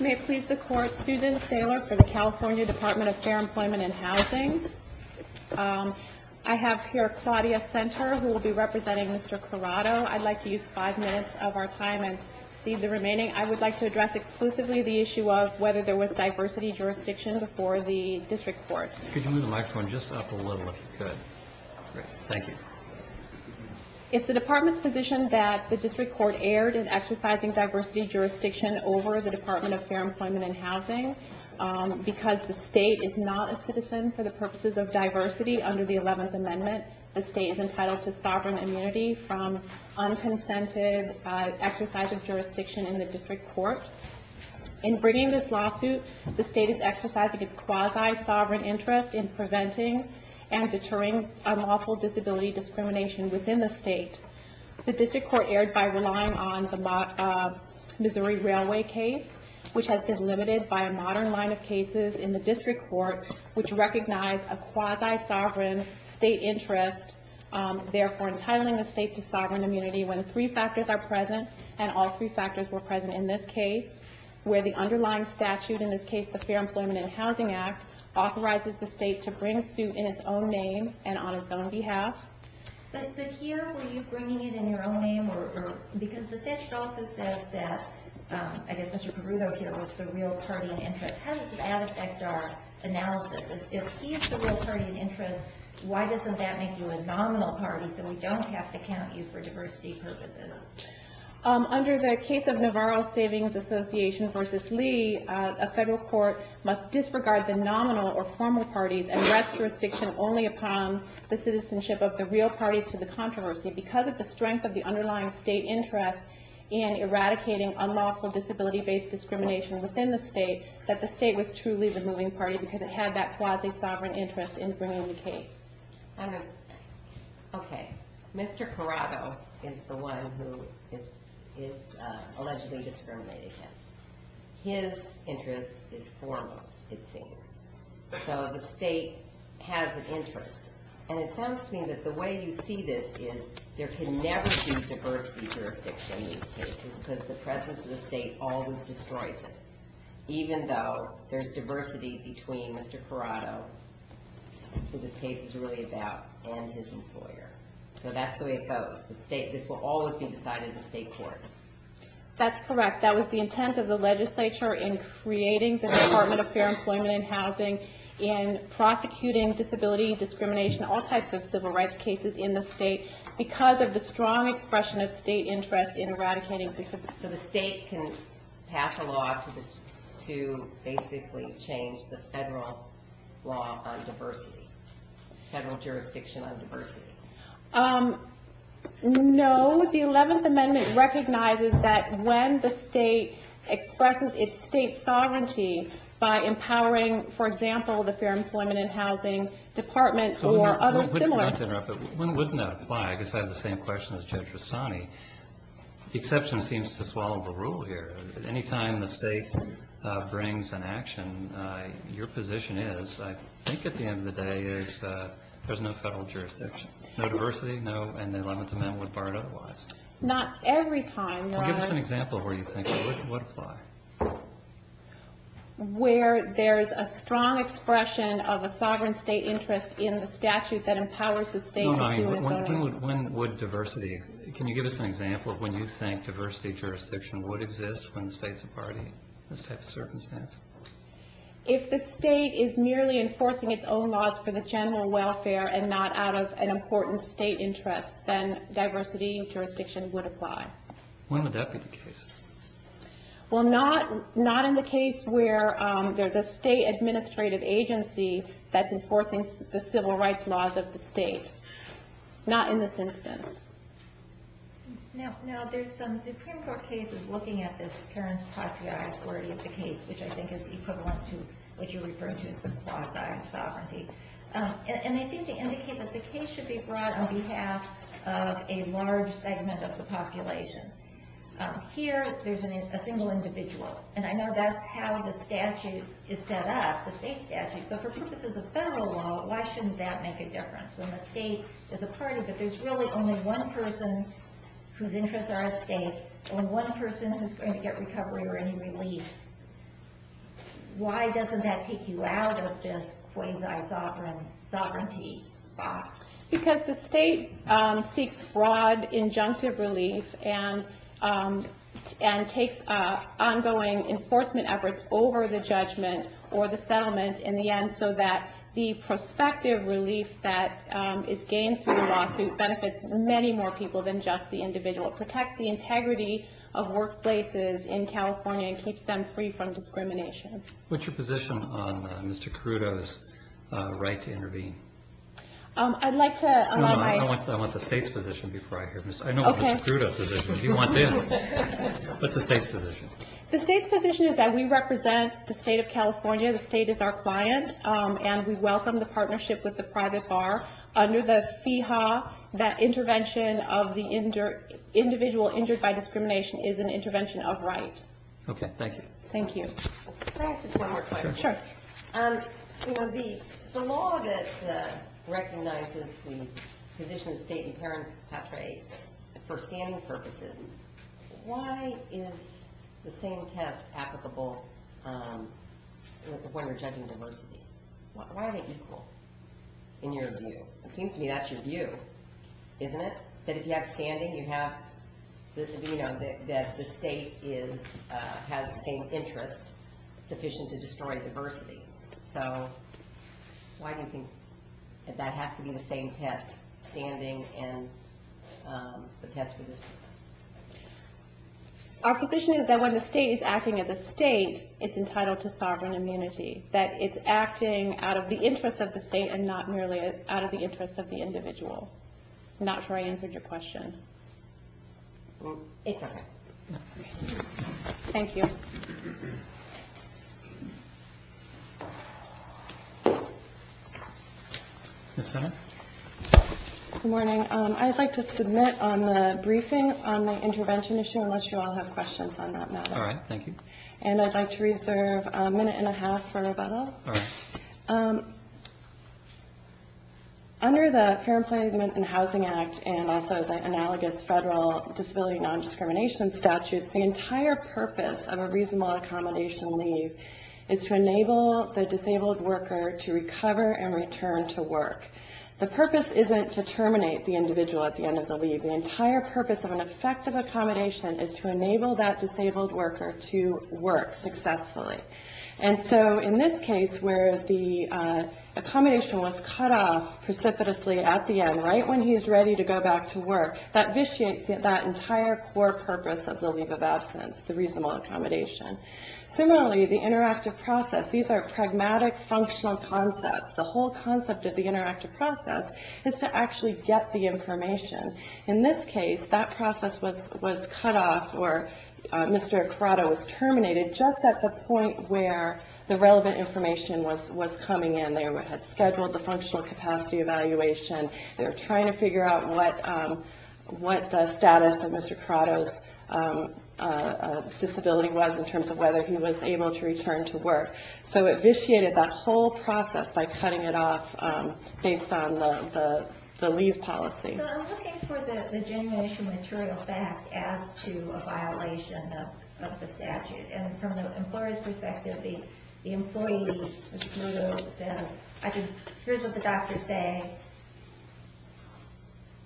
May it please the Court, Susan Saylor for the California Department of Fair Employment and Housing. I have here Claudia Senter who will be representing Mr. Corrado. I'd like to use five minutes of our time and cede the remaining. I would like to address exclusively the issue of whether there was diversity jurisdiction before the district court. Could you move the microphone just up a little if you could? Great. Thank you. It's the department's position that the district court erred in exercising diversity jurisdiction over the Department of Fair Employment and Housing because the state is not a citizen for the purposes of diversity under the 11th Amendment. The state is entitled to sovereign immunity from unconsented exercise of jurisdiction in the district court. In bringing this lawsuit, the state is exercising its quasi-sovereign interest in preventing and deterring unlawful disability discrimination within the state. The district court erred by relying on the Missouri Railway case, which has been limited by a modern line of cases in the district court, which recognize a quasi-sovereign state interest, therefore entitling the state to sovereign immunity when three factors are present, and all three factors were present in this case, where the underlying statute, in this case the Fair Employment and Housing Act, authorizes the state to bring suit in its own name and on its own behalf. But here, were you bringing it in your own name? Because the statute also said that, I guess Mr. Perrudo here was the real party in interest. How does that affect our analysis? If he's the real party in interest, why doesn't that make you a nominal party so we don't have to count you for diversity purposes? A federal court must disregard the nominal or formal parties and rest jurisdiction only upon the citizenship of the real parties to the controversy. Because of the strength of the underlying state interest in eradicating unlawful disability-based discrimination within the state, that the state was truly the moving party because it had that quasi-sovereign interest in bringing the case. Okay. Mr. Corrado is the one who is allegedly discriminated against. His interest is formal, it seems. So the state has an interest. And it sounds to me that the way you see this is there can never be diversity jurisdiction in these cases because the presence of the state always destroys it. Even though there's diversity between Mr. Corrado, who this case is really about, and his employer. So that's the way it goes. This will always be decided in state courts. That's correct. That was the intent of the legislature in creating the Department of Fair Employment and Housing in prosecuting disability discrimination, all types of civil rights cases in the state because of the strong expression of state interest in eradicating disability. So the state can pass a law to basically change the federal law on diversity, federal jurisdiction on diversity. No. The 11th Amendment recognizes that when the state expresses its state sovereignty by empowering, for example, the Fair Employment and Housing Department or other similar... One would not apply. I guess I have the same question as Judge Rossani. The exception seems to swallow the rule here. Any time the state brings an action, your position is, I think at the end of the day, is there's no federal jurisdiction. No diversity, no, and the 11th Amendment would bar it otherwise. Not every time, Ron. Give us an example where you think it would apply. Where there's a strong expression of a sovereign state interest in the statute that empowers the state to... When would diversity... Can you give us an example of when you think diversity jurisdiction would exist when the state's a party in this type of circumstance? If the state is merely enforcing its own laws for the general welfare and not out of an important state interest, then diversity jurisdiction would apply. When would that be the case? Well, not in the case where there's a state administrative agency that's enforcing the civil rights laws of the state. Not in this instance. Now, there's some Supreme Court cases looking at this parents' patriae authority of the case, which I think is equivalent to what you referred to as the quasi-sovereignty. And they seem to indicate that the case should be brought on behalf of a large segment of the population. Here, there's a single individual. And I know that's how the statute is set up, the state statute, but for purposes of federal law, why shouldn't that make a difference? When the state is a party, but there's really only one person whose interests are at stake, and one person who's going to get recovery or any relief. Why doesn't that take you out of this quasi-sovereignty box? Because the state seeks broad, injunctive relief and takes ongoing enforcement efforts over the judgment or the settlement in the end so that the prospective relief that is gained through the lawsuit benefits many more people than just the individual. It protects the integrity of workplaces in California and keeps them free from discrimination. What's your position on Mr. Crudo's right to intervene? I'd like to allow my... No, I want the state's position before I hear... Okay. I know what Mr. Crudo's position is. He wants in. What's the state's position? The state's position is that we represent the state of California. The state is our client, and we welcome the partnership with the private bar. Under the FEHA, that intervention of the individual injured by discrimination is an intervention of right. Okay, thank you. Thank you. Can I ask just one more question? Sure. For the law that recognizes the position of state and parents' patrae for standing purposes, why is the same test applicable when we're judging diversity? Why are they equal in your view? It seems to me that's your view, isn't it? That if you have standing, you have... That the state has the same interest sufficient to destroy diversity. Why do you think that has to be the same test, standing and the test for this purpose? Our position is that when the state is acting as a state, it's entitled to sovereign immunity. That it's acting out of the interest of the state and not merely out of the interest of the individual. Not sure I answered your question. It's okay. Thank you. Yes, ma'am. Good morning. I'd like to submit on the briefing on the intervention issue, unless you all have questions on that matter. All right, thank you. And I'd like to reserve a minute and a half for Rebecca. All right. Under the Fair Employment and Housing Act and also the analogous federal disability non-discrimination statutes, the entire purpose of a reasonable accommodation leave is to enable the disabled worker to recover and return to work. The purpose isn't to terminate the individual at the end of the leave. The entire purpose of an effective accommodation is to enable that disabled worker to work successfully. And so in this case where the accommodation was cut off precipitously at the end, right when he's ready to go back to work, that vitiates that entire core purpose of the leave of absence, the reasonable accommodation. Similarly, the interactive process. These are pragmatic, functional concepts. The whole concept of the interactive process is to actually get the information. In this case, that process was cut off or Mr. Ecrata was terminated just at the point where the relevant information was coming in. They had scheduled the functional capacity evaluation. They were trying to figure out what the status of Mr. Ecrata's disability was in terms of whether he was able to return to work. So it vitiated that whole process by cutting it off based on the leave policy. So I'm looking for the generation material fact as to a violation of the statute. And from the employer's perspective, the employee, Mr. Crudo, said, here's what the doctors say.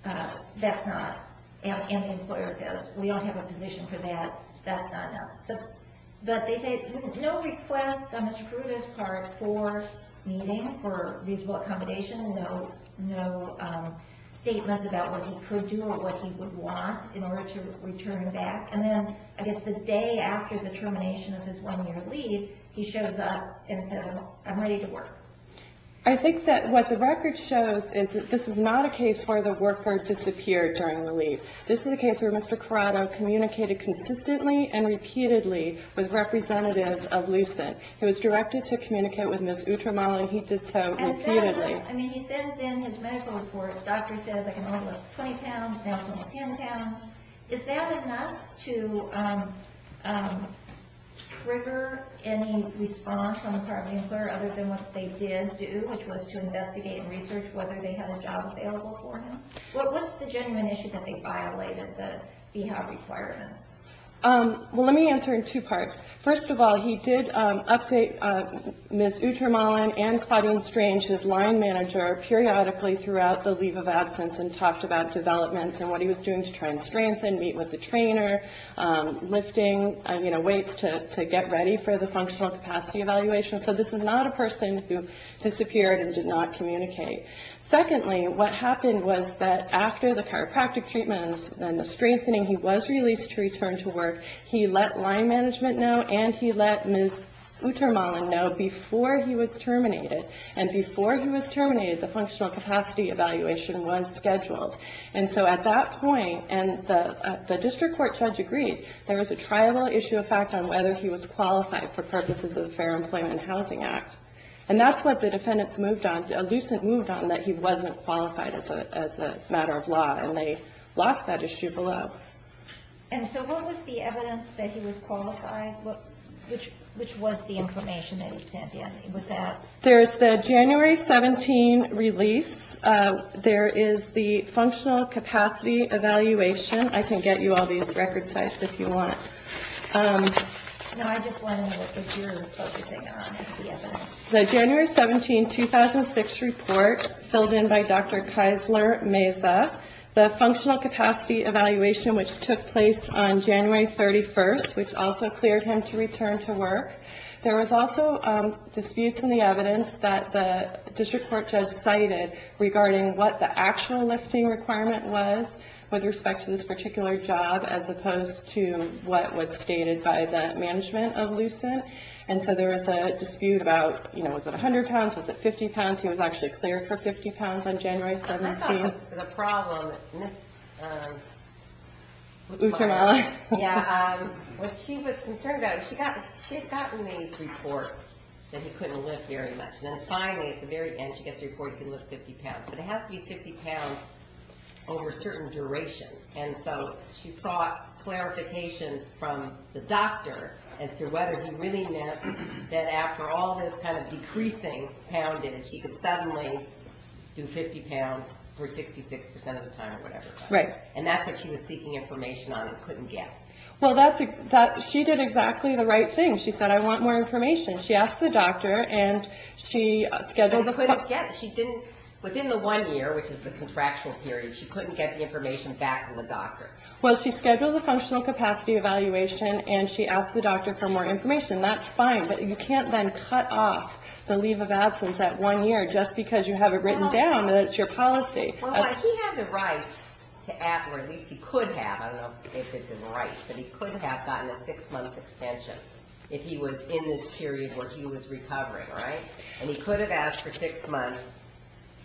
That's not. And the employer says, we don't have a position for that. That's not enough. But they say, no request on Mr. Crudo's part for meeting, for reasonable accommodation. No statements about what he could do or what he would want in order to return back. And then I guess the day after the termination of his one-year leave, he shows up and says, I'm ready to work. I think that what the record shows is that this is not a case where the worker disappeared during the leave. This is a case where Mr. Crudo communicated consistently and repeatedly with representatives of Lucent. He was directed to communicate with Ms. Utramala, and he did so repeatedly. I mean, he sends in his medical report. The doctor says I can only lift 20 pounds. Now it's only 10 pounds. Is that enough to trigger any response on the part of the employer other than what they did do, which was to investigate and research whether they had a job available for him? What was the genuine issue that they violated, the BHOP requirements? Well, let me answer in two parts. First of all, he did update Ms. Utramala and Claudine Strange, his line manager, periodically throughout the leave of absence and talked about developments and what he was doing to try and strengthen, meet with the trainer, lifting weights to get ready for the functional capacity evaluation. So this is not a person who disappeared and did not communicate. Secondly, what happened was that after the chiropractic treatments and the strengthening, he was released to return to work. He let line management know, and he let Ms. Utramala know before he was terminated. And before he was terminated, the functional capacity evaluation was scheduled. And so at that point, and the district court judge agreed, there was a triable issue of fact on whether he was qualified for purposes of the Fair Employment and Housing Act. And that's what the defendants moved on, elusive moved on that he wasn't qualified as a matter of law, and they lost that issue below. And so what was the evidence that he was qualified? Which was the information that he sent in? There's the January 17 release. There is the functional capacity evaluation. I can get you all these record sites if you want. The January 17, 2006 report filled in by Dr. Keisler Meza, the functional capacity evaluation which took place on January 31st, which also cleared him to return to work. There was also disputes in the evidence that the district court judge cited regarding what the actual lifting requirement was with respect to this particular job, as opposed to what was stated by the management of Lucent. And so there was a dispute about, you know, was it 100 pounds? Was it 50 pounds? He was actually cleared for 50 pounds on January 17. The problem, what she was concerned about, she had gotten these reports that he couldn't lift very much. Then finally at the very end she gets a report he can lift 50 pounds. But it has to be 50 pounds over a certain duration. And so she sought clarification from the doctor as to whether he really meant that after all this kind of decreasing poundage, he could suddenly do 50 pounds for 66% of the time or whatever. Right. And that's what she was seeking information on and couldn't get. Well, she did exactly the right thing. She said, I want more information. She asked the doctor and she scheduled the – But she couldn't get. Within the one year, which is the contractual period, she couldn't get the information back from the doctor. Well, she scheduled the functional capacity evaluation and she asked the doctor for more information. That's fine. But you can't then cut off the leave of absence that one year just because you have it written down that it's your policy. Well, he had the right to ask, or at least he could have, I don't know if it's in the rights, but he could have gotten a six-month extension if he was in this period where he was recovering, right? And he could have asked for six months,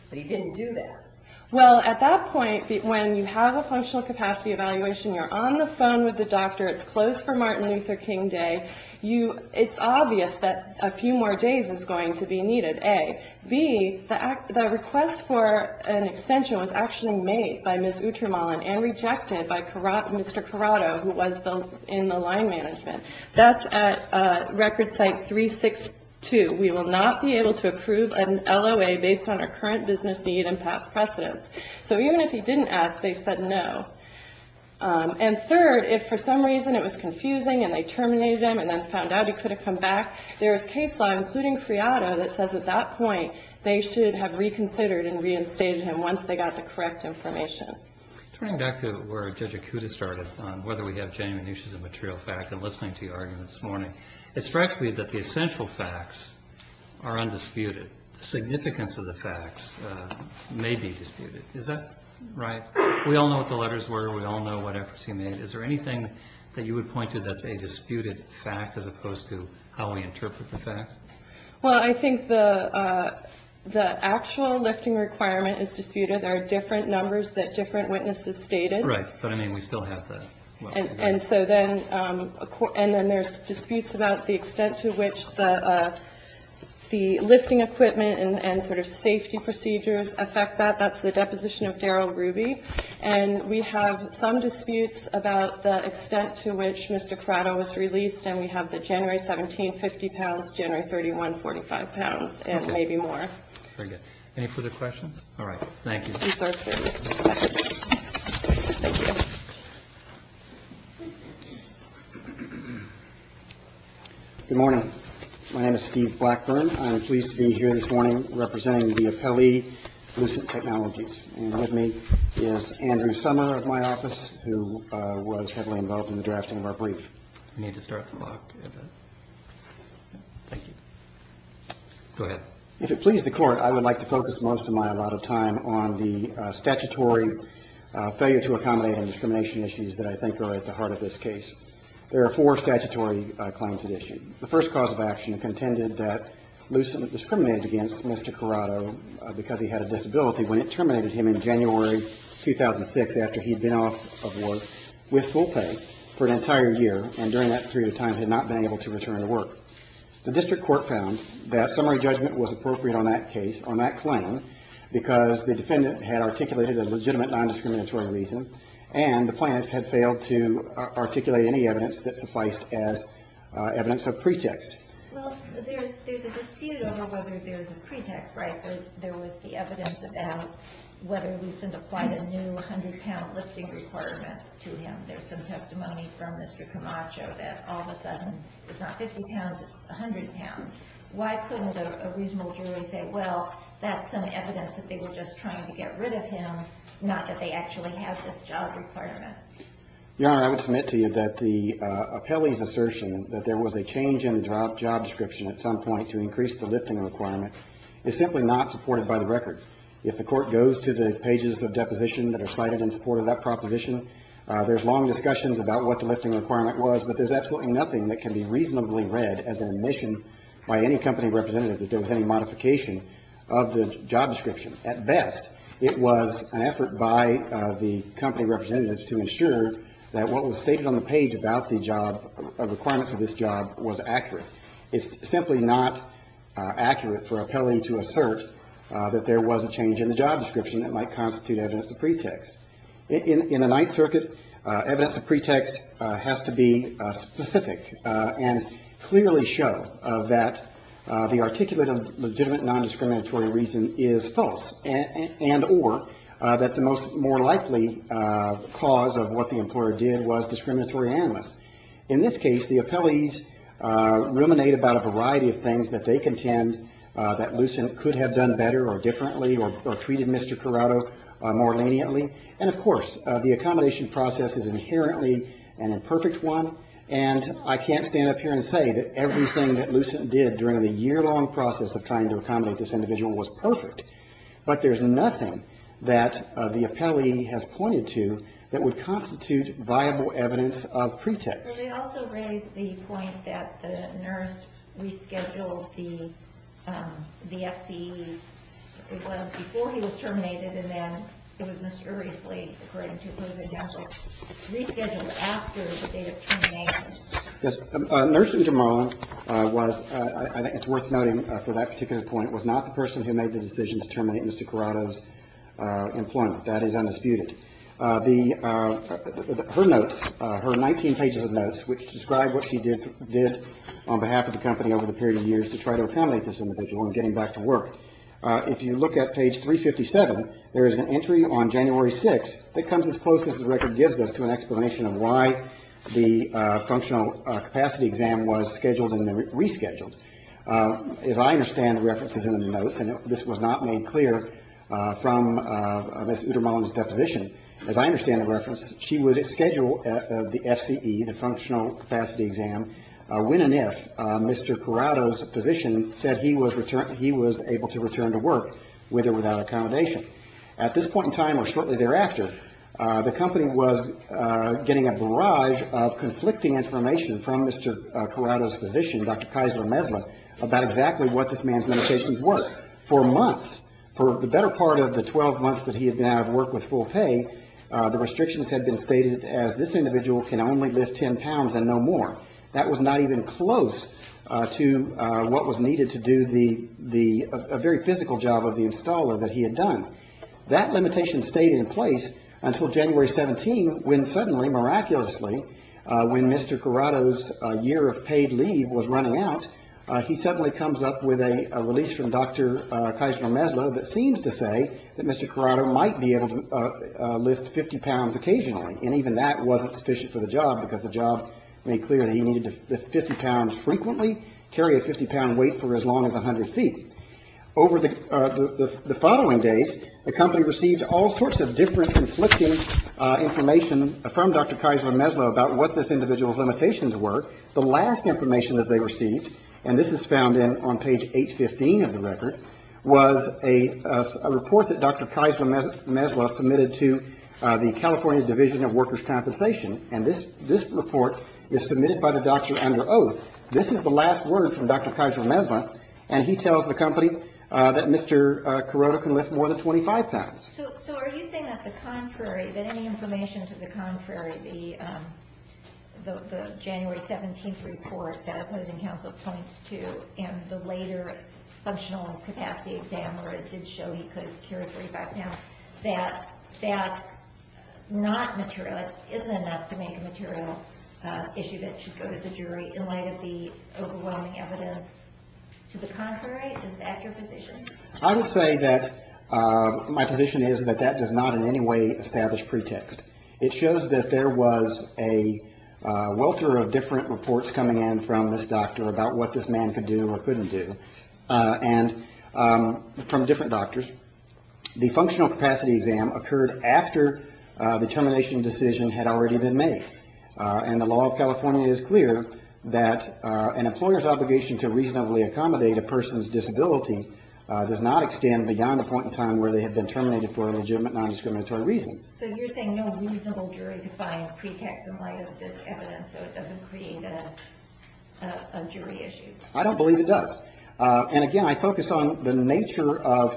but he didn't do that. Well, at that point, when you have a functional capacity evaluation, you're on the phone with the doctor. It's closed for Martin Luther King Day. It's obvious that a few more days is going to be needed, A. B, the request for an extension was actually made by Ms. Utramallen and rejected by Mr. Corrado, who was in the line management. That's at Record Site 362. We will not be able to approve an LOA based on our current business need and past precedence. So even if he didn't ask, they said no. And third, if for some reason it was confusing and they terminated him and then found out he could have come back, there is case law, including Corrado, that says at that point they should have reconsidered and reinstated him once they got the correct information. Turning back to where Judge Akuta started on whether we have genuine issues of material facts and listening to your argument this morning, it strikes me that the essential facts are undisputed. The significance of the facts may be disputed. Is that right? We all know what the letters were. We all know what efforts he made. Is there anything that you would point to that's a disputed fact as opposed to how we interpret the facts? Well, I think the actual lifting requirement is disputed. There are different numbers that different witnesses stated. Right. But, I mean, we still have that. And so then there's disputes about the extent to which the lifting equipment and sort of safety procedures affect that. That's the deposition of Darrell Ruby. And we have some disputes about the extent to which Mr. Corrado was released. And we have the January 17, 50 pounds, January 31, 45 pounds, and maybe more. Very good. Any further questions? All right. Thank you. Thank you. Good morning. My name is Steve Blackburn. I am pleased to be here this morning representing the appellee, Lucent Technologies. And with me is Andrew Sommer of my office, who was heavily involved in the drafting of our brief. We need to start the clock a bit. Thank you. Go ahead. If it pleases the Court, I would like to focus most of my allotted time on the statutory failure to accommodate on discrimination issues that I think are at the heart of this case. There are four statutory claims at issue. The first cause of action contended that Lucent discriminated against Mr. Corrado because he had a disability when it terminated him in January 2006 after he had been off of work with full pay for an entire year and during that period of time had not been able to return to work. The district court found that summary judgment was appropriate on that case, on that claim, because the defendant had articulated a legitimate nondiscriminatory reason and the plaintiff had failed to articulate any evidence that sufficed as evidence of pretext. Well, there's a dispute over whether there's a pretext, right? There was the evidence about whether Lucent applied a new 100-pound lifting requirement to him. There's some testimony from Mr. Camacho that all of a sudden it's not 50 pounds, it's 100 pounds. Why couldn't a reasonable jury say, well, that's some evidence that they were just trying to get rid of him, not that they actually have this job requirement? Your Honor, I would submit to you that the appellee's assertion that there was a change in the job description at some point to increase the lifting requirement is simply not supported by the record. If the court goes to the pages of deposition that are cited in support of that proposition, there's long discussions about what the lifting requirement was, but there's absolutely nothing that can be reasonably read as an admission by any company representative that there was any modification of the job description. At best, it was an effort by the company representative to ensure that what was stated on the page about the job requirements of this job was accurate. It's simply not accurate for an appellee to assert that there was a change in the job description that might constitute evidence of pretext. In the Ninth Circuit, evidence of pretext has to be specific and clearly show that the articulative legitimate nondiscriminatory reason is false and or that the most more likely cause of what the employer did was discriminatory analyst. In this case, the appellees ruminate about a variety of things that they contend that Lucent could have done better or differently or treated Mr. Corrado more leniently. And of course, the accommodation process is inherently an imperfect one, and I can't stand up here and say that everything that Lucent did during the year-long process of trying to accommodate this individual was perfect. But there's nothing that the appellee has pointed to that would constitute viable evidence of pretext. They also raised the point that the nurse rescheduled the FCE. It was before he was terminated, and then it was mysteriously, according to opposing counsel, rescheduled after the date of termination. Nurse Jamal was, I think it's worth noting for that particular point, was not the person who made the decision to terminate Mr. Corrado's employment. That is undisputed. Her notes, her 19 pages of notes, which describe what she did on behalf of the company over the period of years to try to accommodate this individual in getting back to work, if you look at page 357, there is an entry on January 6th that comes as close as the functional capacity exam was scheduled and rescheduled. As I understand the references in the notes, and this was not made clear from Ms. Uttermohlen's deposition, as I understand the reference, she would schedule the FCE, the functional capacity exam, when and if Mr. Corrado's physician said he was able to return to work, with or without accommodation. At this point in time, or shortly thereafter, the company was getting a barrage of conflicting information from Mr. Corrado's physician, Dr. Kaisler-Messler, about exactly what this man's limitations were. For months, for the better part of the 12 months that he had been out of work with full pay, the restrictions had been stated as this individual can only lift 10 pounds and no more. That was not even close to what was needed to do the, a very physical job of the installer that he had done. That limitation stayed in place until January 17th, when suddenly, miraculously, when Mr. Corrado's year of paid leave was running out, he suddenly comes up with a release from Dr. Kaisler-Messler that seems to say that Mr. Corrado might be able to lift 50 pounds occasionally. And even that wasn't sufficient for the job, because the job made clear that he needed to lift 50 pounds frequently, carry a 50-pound weight for as long as 100 feet. Over the following days, the company received all sorts of different conflicting information from Dr. Kaisler-Messler about what this individual's limitations were. The last information that they received, and this is found in, on page 815 of the record, was a report that Dr. Kaisler-Messler submitted to the California Division of Workers' Compensation. And this report is submitted by the doctor under oath. This is the last word from Dr. Kaisler-Messler. And he tells the company that Mr. Corrado can lift more than 25 pounds. So are you saying that the contrary, that any information to the contrary, the January 17th report that opposing counsel points to in the later functional capacity exam where it did show he could carry 35 pounds, that that's not material, it isn't enough to make a material issue that should go to the jury in light of the overwhelming evidence to the contrary? Is that your position? I would say that my position is that that does not in any way establish pretext. It shows that there was a welter of different reports coming in from this doctor about what this man could do or couldn't do, and from different doctors. The functional capacity exam occurred after the termination decision had already been made. And the law of California is clear that an employer's obligation to reasonably accommodate a person's disability does not extend beyond the point in time where they have been terminated for a legitimate nondiscriminatory reason. So you're saying no reasonable jury could find pretext in light of this evidence so it doesn't create a jury issue? I don't believe it does. And again, I focus on the nature of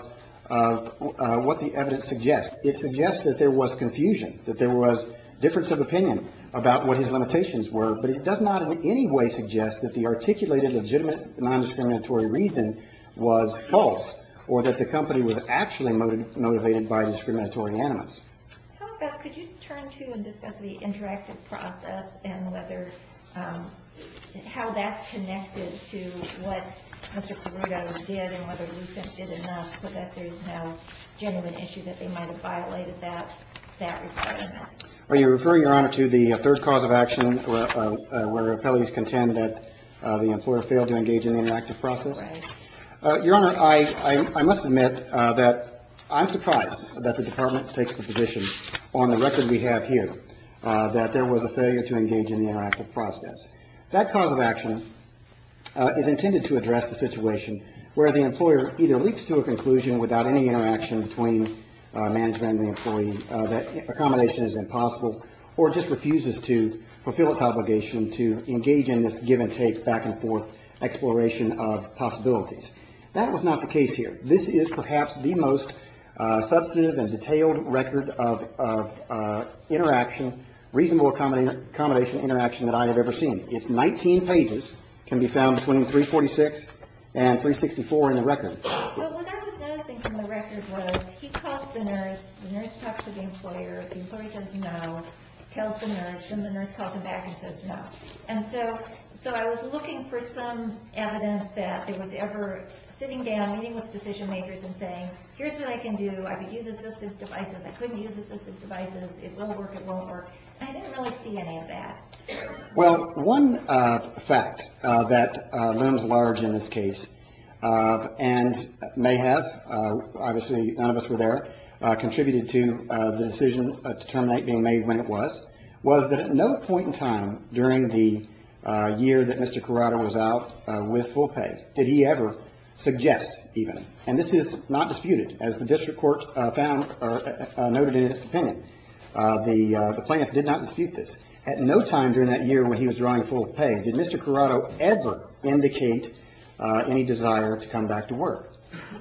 what the evidence suggests. It suggests that there was confusion, that there was difference of opinion about what his limitations were, but it does not in any way suggest that the articulated legitimate nondiscriminatory reason was false or that the company was actually motivated by discriminatory animus. How about, could you turn to and discuss the interactive process and whether, how that's connected to what Are you referring, Your Honor, to the third cause of action where appellees contend that the employer failed to engage in the interactive process? Right. Your Honor, I must admit that I'm surprised that the Department takes the position on the record we have here that there was a failure to engage in the interactive process. That cause of action is intended to address the situation where the employer either leaps to a conclusion without any interaction between management and the employee that accommodation is impossible or just refuses to fulfill its obligation to engage in this give and take, back and forth exploration of possibilities. That was not the case here. This is perhaps the most substantive and detailed record of interaction, reasonable accommodation interaction that I have ever seen. It's 19 pages, can be found between 346 and 364 in the record. But what I was noticing from the record was he calls the nurse, the nurse talks to the employer, the employer says no, tells the nurse, then the nurse calls him back and says no. And so I was looking for some evidence that there was ever sitting down, meeting with decision makers and saying, here's what I can do, I could use assistive devices, I couldn't use assistive devices, it won't work, it won't work. And I didn't really see any of that. Well, one fact that looms large in this case and may have, obviously none of us were there, contributed to the decision to terminate being made when it was, was that at no point in time during the year that Mr. Corrado was out with full pay did he ever suggest even, and this is not disputed as the district court found or noted in its opinion. The plaintiff did not dispute this. At no time during that year when he was drawing full pay did Mr. Corrado ever indicate any desire to come back to work.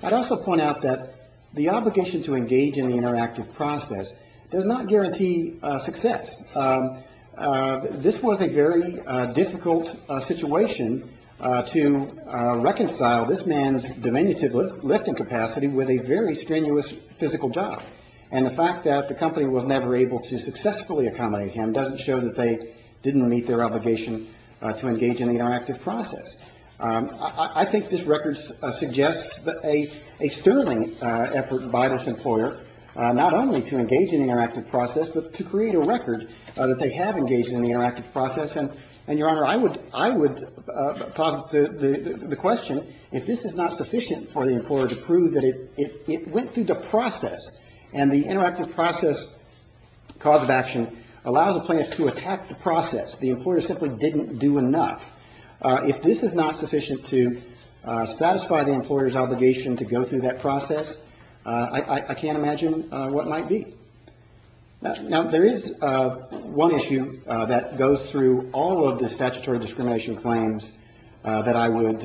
I'd also point out that the obligation to engage in the interactive process does not guarantee success. This was a very difficult situation to reconcile this man's diminutive lifting capacity with a very strenuous physical job. And the fact that the company was never able to successfully accommodate him doesn't show that they didn't meet their obligation to engage in the interactive process. I think this record suggests a sterling effort by this employer not only to engage in the interactive process, but to create a record that they have engaged in the interactive process. And, Your Honor, I would, I would posit the question, if this is not sufficient for the employer to prove that it went through the process and the interactive process cause of action allows a plaintiff to attack the process, the employer simply didn't do enough, if this is not sufficient to satisfy the employer's obligation to go through that process, I can't imagine what might be. Now, there is one issue that goes through all of the statutory discrimination claims that I would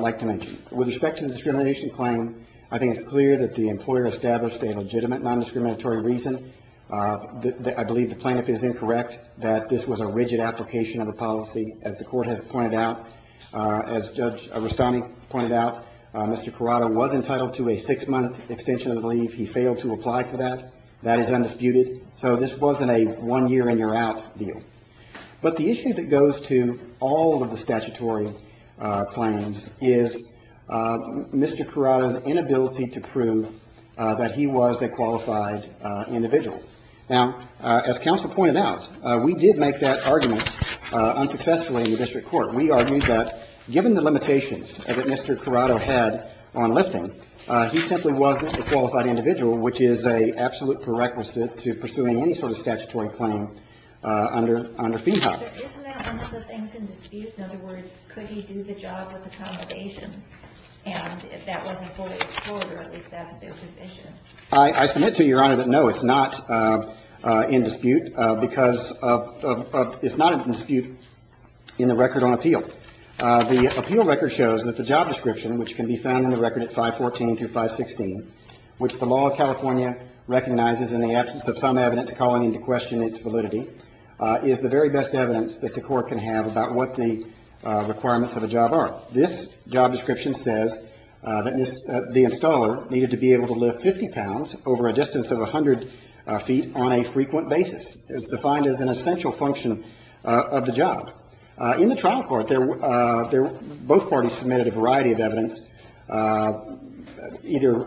like to make. With respect to the discrimination claim, I think it's clear that the employer established a legitimate nondiscriminatory reason. I believe the plaintiff is incorrect that this was a rigid application of a policy. As the Court has pointed out, as Judge Rustami pointed out, Mr. Corrado was entitled to a six-month extension of leave. He failed to apply for that. That is undisputed. So this wasn't a one-year-and-you're-out deal. But the issue that goes to all of the statutory claims is Mr. Corrado's inability to prove that he was a qualified individual. Now, as counsel pointed out, we did make that argument unsuccessfully in the district court. We argued that given the limitations that Mr. Corrado had on lifting, he simply wasn't a qualified individual, which is an absolute prerequisite to pursuing any sort of statutory claim under Feehoff. But isn't that one of the things in dispute? In other words, could he do the job with accommodations? And if that wasn't fully explored, or at least that's their position. I submit to Your Honor that, no, it's not in dispute because of – it's not in dispute in the record on appeal. The appeal record shows that the job description, which can be found in the record at 514 through 516, which the law of California recognizes in the absence of some evidence calling into question its validity, is the very best evidence that the court can have about what the requirements of a job are. This job description says that the installer needed to be able to lift 50 pounds over a distance of 100 feet on a frequent basis. It's defined as an essential function of the job. In the trial court, both parties submitted a variety of evidence either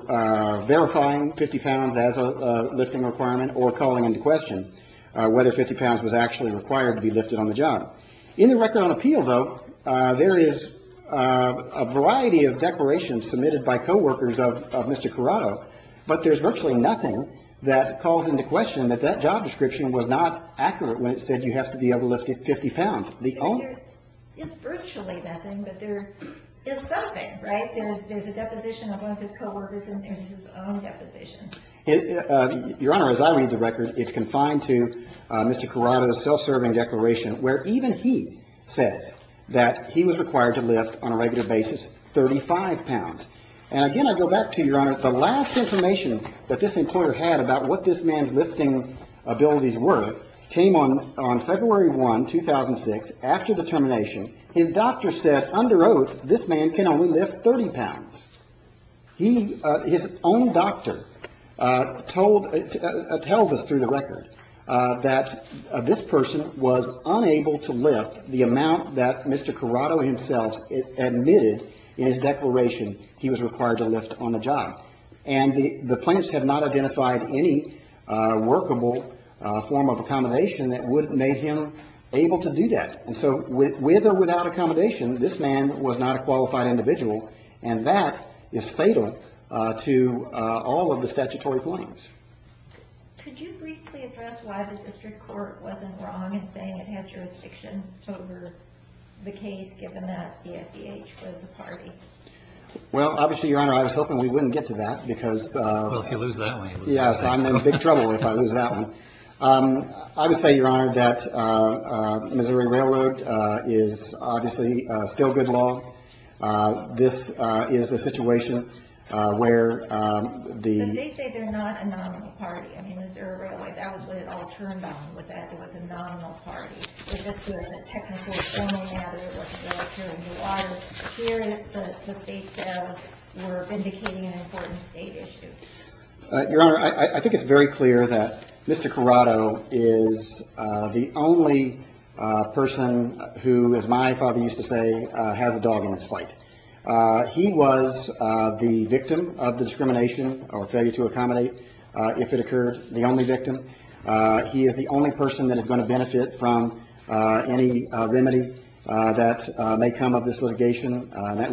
verifying 50 pounds as a lifting requirement or calling into question whether 50 pounds was actually required to be lifted on the job. In the record on appeal, though, there is a variety of declarations submitted by coworkers of Mr. Corrado, but there's virtually nothing that calls into question that that job description was not accurate when it said you have to be able to lift 50 pounds. There is virtually nothing, but there is something, right? There's a deposition of one of his coworkers and there's his own deposition. Your Honor, as I read the record, it's confined to Mr. Corrado's self-serving declaration, where even he says that he was required to lift on a regular basis 35 pounds. And again, I go back to, Your Honor, the last information that this employer had about what this man's lifting abilities were came on February 1, 2006, after the termination. His doctor said under oath this man can only lift 30 pounds. He, his own doctor, told, tells us through the record that this person was unable to lift the amount that Mr. Corrado himself admitted in his declaration he was required to lift on the job. And the plaintiffs have not identified any workable form of accommodation that would have made him able to do that. And so with or without accommodation, this man was not a qualified individual. And that is fatal to all of the statutory claims. Could you briefly address why the district court wasn't wrong in saying it had jurisdiction over the case, given that the FDH was a party? Well, obviously, Your Honor, I was hoping we wouldn't get to that because. Well, if you lose that one. Yes. I'm in big trouble if I lose that one. I would say, Your Honor, that Missouri Railroad is obviously still good law. This is a situation where the. But they say they're not a nominal party. I mean, Missouri Railroad, that was what it all turned on, was that it was a nominal party. Your Honor, I think it's very clear that Mr. Corrado is the only person who, as my father used to say, has a dog in his fight. He was the victim of the discrimination or failure to accommodate, if it occurred, the only victim. He is the only person that is going to benefit from any remedy that may come of this litigation. That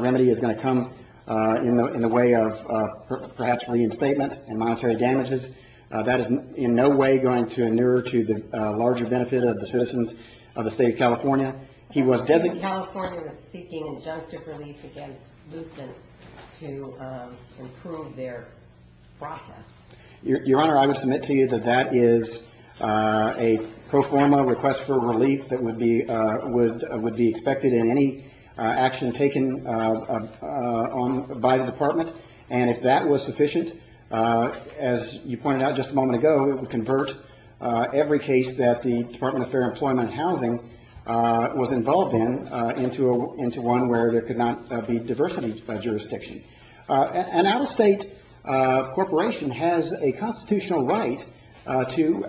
remedy is going to come in the way of perhaps reinstatement and monetary damages. That is in no way going to inure to the larger benefit of the citizens of the state of California. He was designated. California was seeking injunctive relief against Lucent to improve their process. Your Honor, I would submit to you that that is a pro forma request for relief that would be expected in any action taken by the Department. And if that was sufficient, as you pointed out just a moment ago, it would convert every case that the Department of Fair Employment and Housing was involved in, into one where there could not be diversity by jurisdiction. An out-of-state corporation has a constitutional right to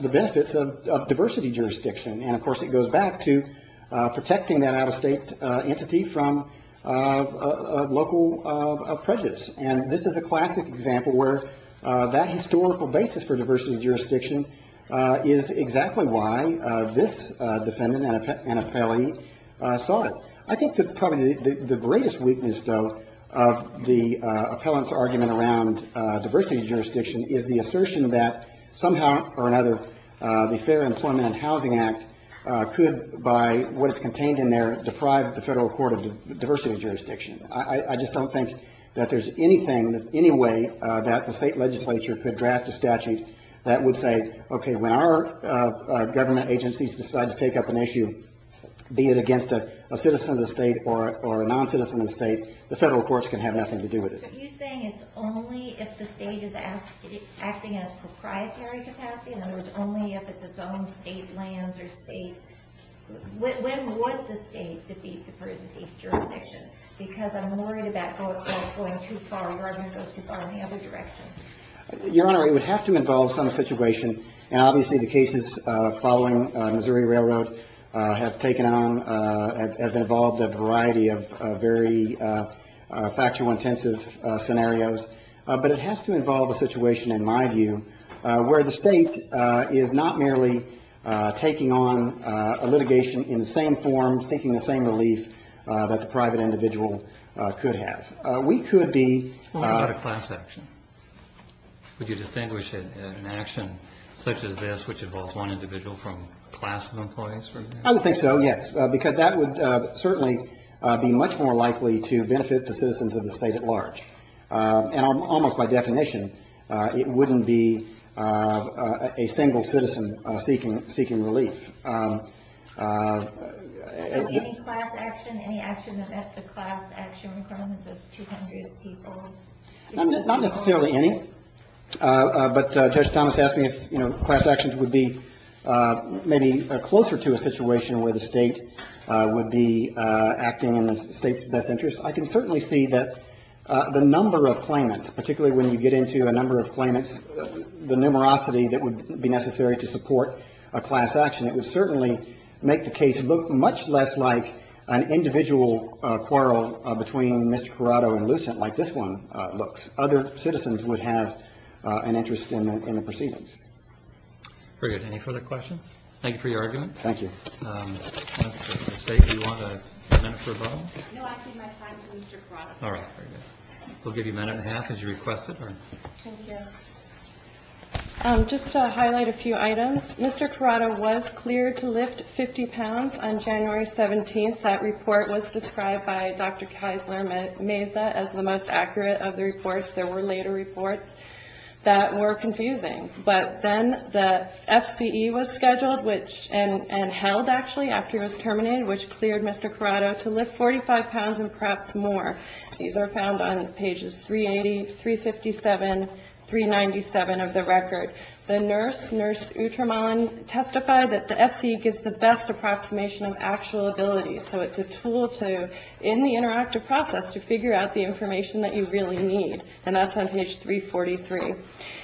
the benefits of diversity jurisdiction. And, of course, it goes back to protecting that out-of-state entity from local prejudice. And this is a classic example where that historical basis for diversity jurisdiction is exactly why this defendant, an appellee, saw it. I think that probably the greatest weakness, though, of the appellant's argument around diversity jurisdiction is the assertion that somehow or another, the Fair Employment and Housing Act could, by what's contained in there, deprive the federal court of diversity jurisdiction. I just don't think that there's anything, any way, that the state legislature could draft a statute that would say, okay, when our government agencies decide to take up an issue, be it against a citizen of the state or a non-citizen of the state, the federal courts can have nothing to do with it. But you're saying it's only if the state is acting as proprietary capacity? In other words, only if it's its own state lands or state – when would the state defeat diversity jurisdiction? Because I'm worried about going too far. Your argument goes too far in the other direction. Your Honor, it would have to involve some situation. And obviously the cases following Missouri Railroad have taken on – have involved a variety of very factual, intensive scenarios. But it has to involve a situation, in my view, where the state is not merely taking on a litigation in the same form, seeking the same relief that the private individual could have. We could be – What about a class action? Would you distinguish an action such as this, which involves one individual from a class of employees, for example? I would think so, yes, because that would certainly be much more likely to benefit the citizens of the state at large. And almost by definition, it wouldn't be a single citizen seeking relief. So any class action, any action that's a class action, Your Honor, Not necessarily any. But Judge Thomas asked me if, you know, class actions would be maybe closer to a situation where the state would be acting in the state's best interest. I can certainly see that the number of claimants, particularly when you get into a number of claimants, the numerosity that would be necessary to support a class action, it would certainly make the case look much less like an individual quarrel between Mr. Corrado and Lucent, like this one looks. Other citizens would have an interest in the proceedings. Very good. Any further questions? Thank you for your argument. Thank you. Ms. State, do you want a minute for a vote? No, I give my time to Mr. Corrado. All right, very good. We'll give you a minute and a half as you request it. Thank you. Just to highlight a few items. Mr. Corrado was cleared to lift 50 pounds on January 17th. That report was described by Dr. Keisler Meza as the most accurate of the reports. There were later reports that were confusing. But then the FCE was scheduled and held, actually, after he was terminated, which cleared Mr. Corrado to lift 45 pounds and perhaps more. These are found on pages 380, 357, 397 of the record. The nurse, Nurse Utraman, testified that the FCE gives the best approximation of actual abilities. So it's a tool to, in the interactive process, to figure out the information that you really need. And that's on page 343.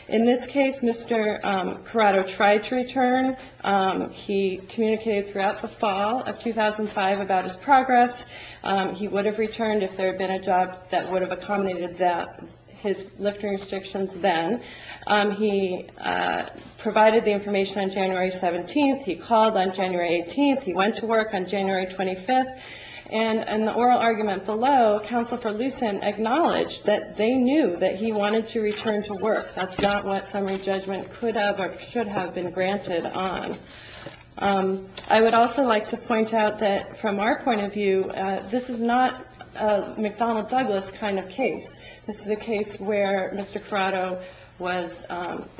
In this case, Mr. Corrado tried to return. He communicated throughout the fall of 2005 about his progress. He would have returned if there had been a job that would have accommodated that, his lifting restrictions then. He provided the information on January 17th. He called on January 18th. He went to work on January 25th. And in the oral argument below, Counsel for Lucin acknowledged that they knew that he wanted to return to work. That's not what summary judgment could have or should have been granted on. I would also like to point out that, from our point of view, this is not a McDonnell Douglas kind of case. This is a case where Mr. Corrado was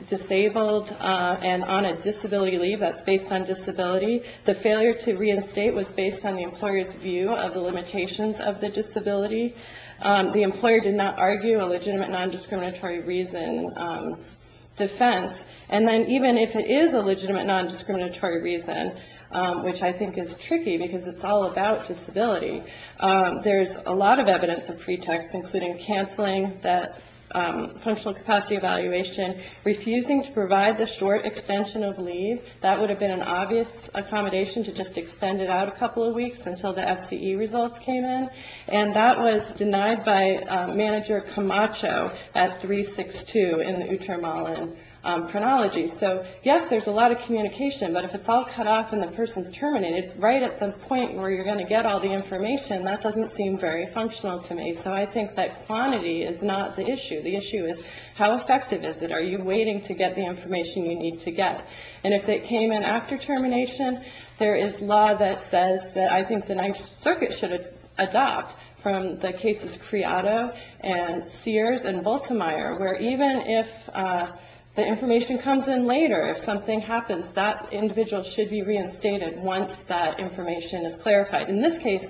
disabled and on a disability leave that's based on disability. The failure to reinstate was based on the employer's view of the limitations of the disability. The employer did not argue a legitimate non-discriminatory reason defense. And then even if it is a legitimate non-discriminatory reason, which I think is tricky because it's all about disability, there's a lot of evidence of pretext, including canceling that functional capacity evaluation, refusing to provide the short extension of leave. That would have been an obvious accommodation to just extend it out a couple of weeks until the FCE results came in. And that was denied by Manager Camacho at 362 in the Uttermalen chronology. So, yes, there's a lot of communication, but if it's all cut off and the person's terminated, right at the point where you're going to get all the information, that doesn't seem very functional to me. So I think that quantity is not the issue. The issue is how effective is it? Are you waiting to get the information you need to get? And if it came in after termination, there is law that says that I think the Ninth Circuit should adopt from the cases Corrado and Sears and Bultemeier, where even if the information comes in later, if something happens, that individual should be reinstated once that information is clarified. In this case,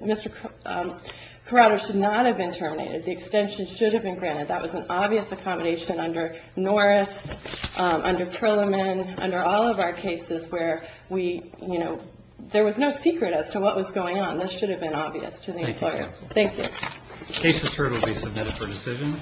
Mr. Corrado should not have been terminated. The extension should have been granted. That was an obvious accommodation under Norris, under Perlman, under all of our cases where we, you know, there was no secret as to what was going on. This should have been obvious to the employer. Thank you, counsel. Thank you. The case return will be submitted for decision.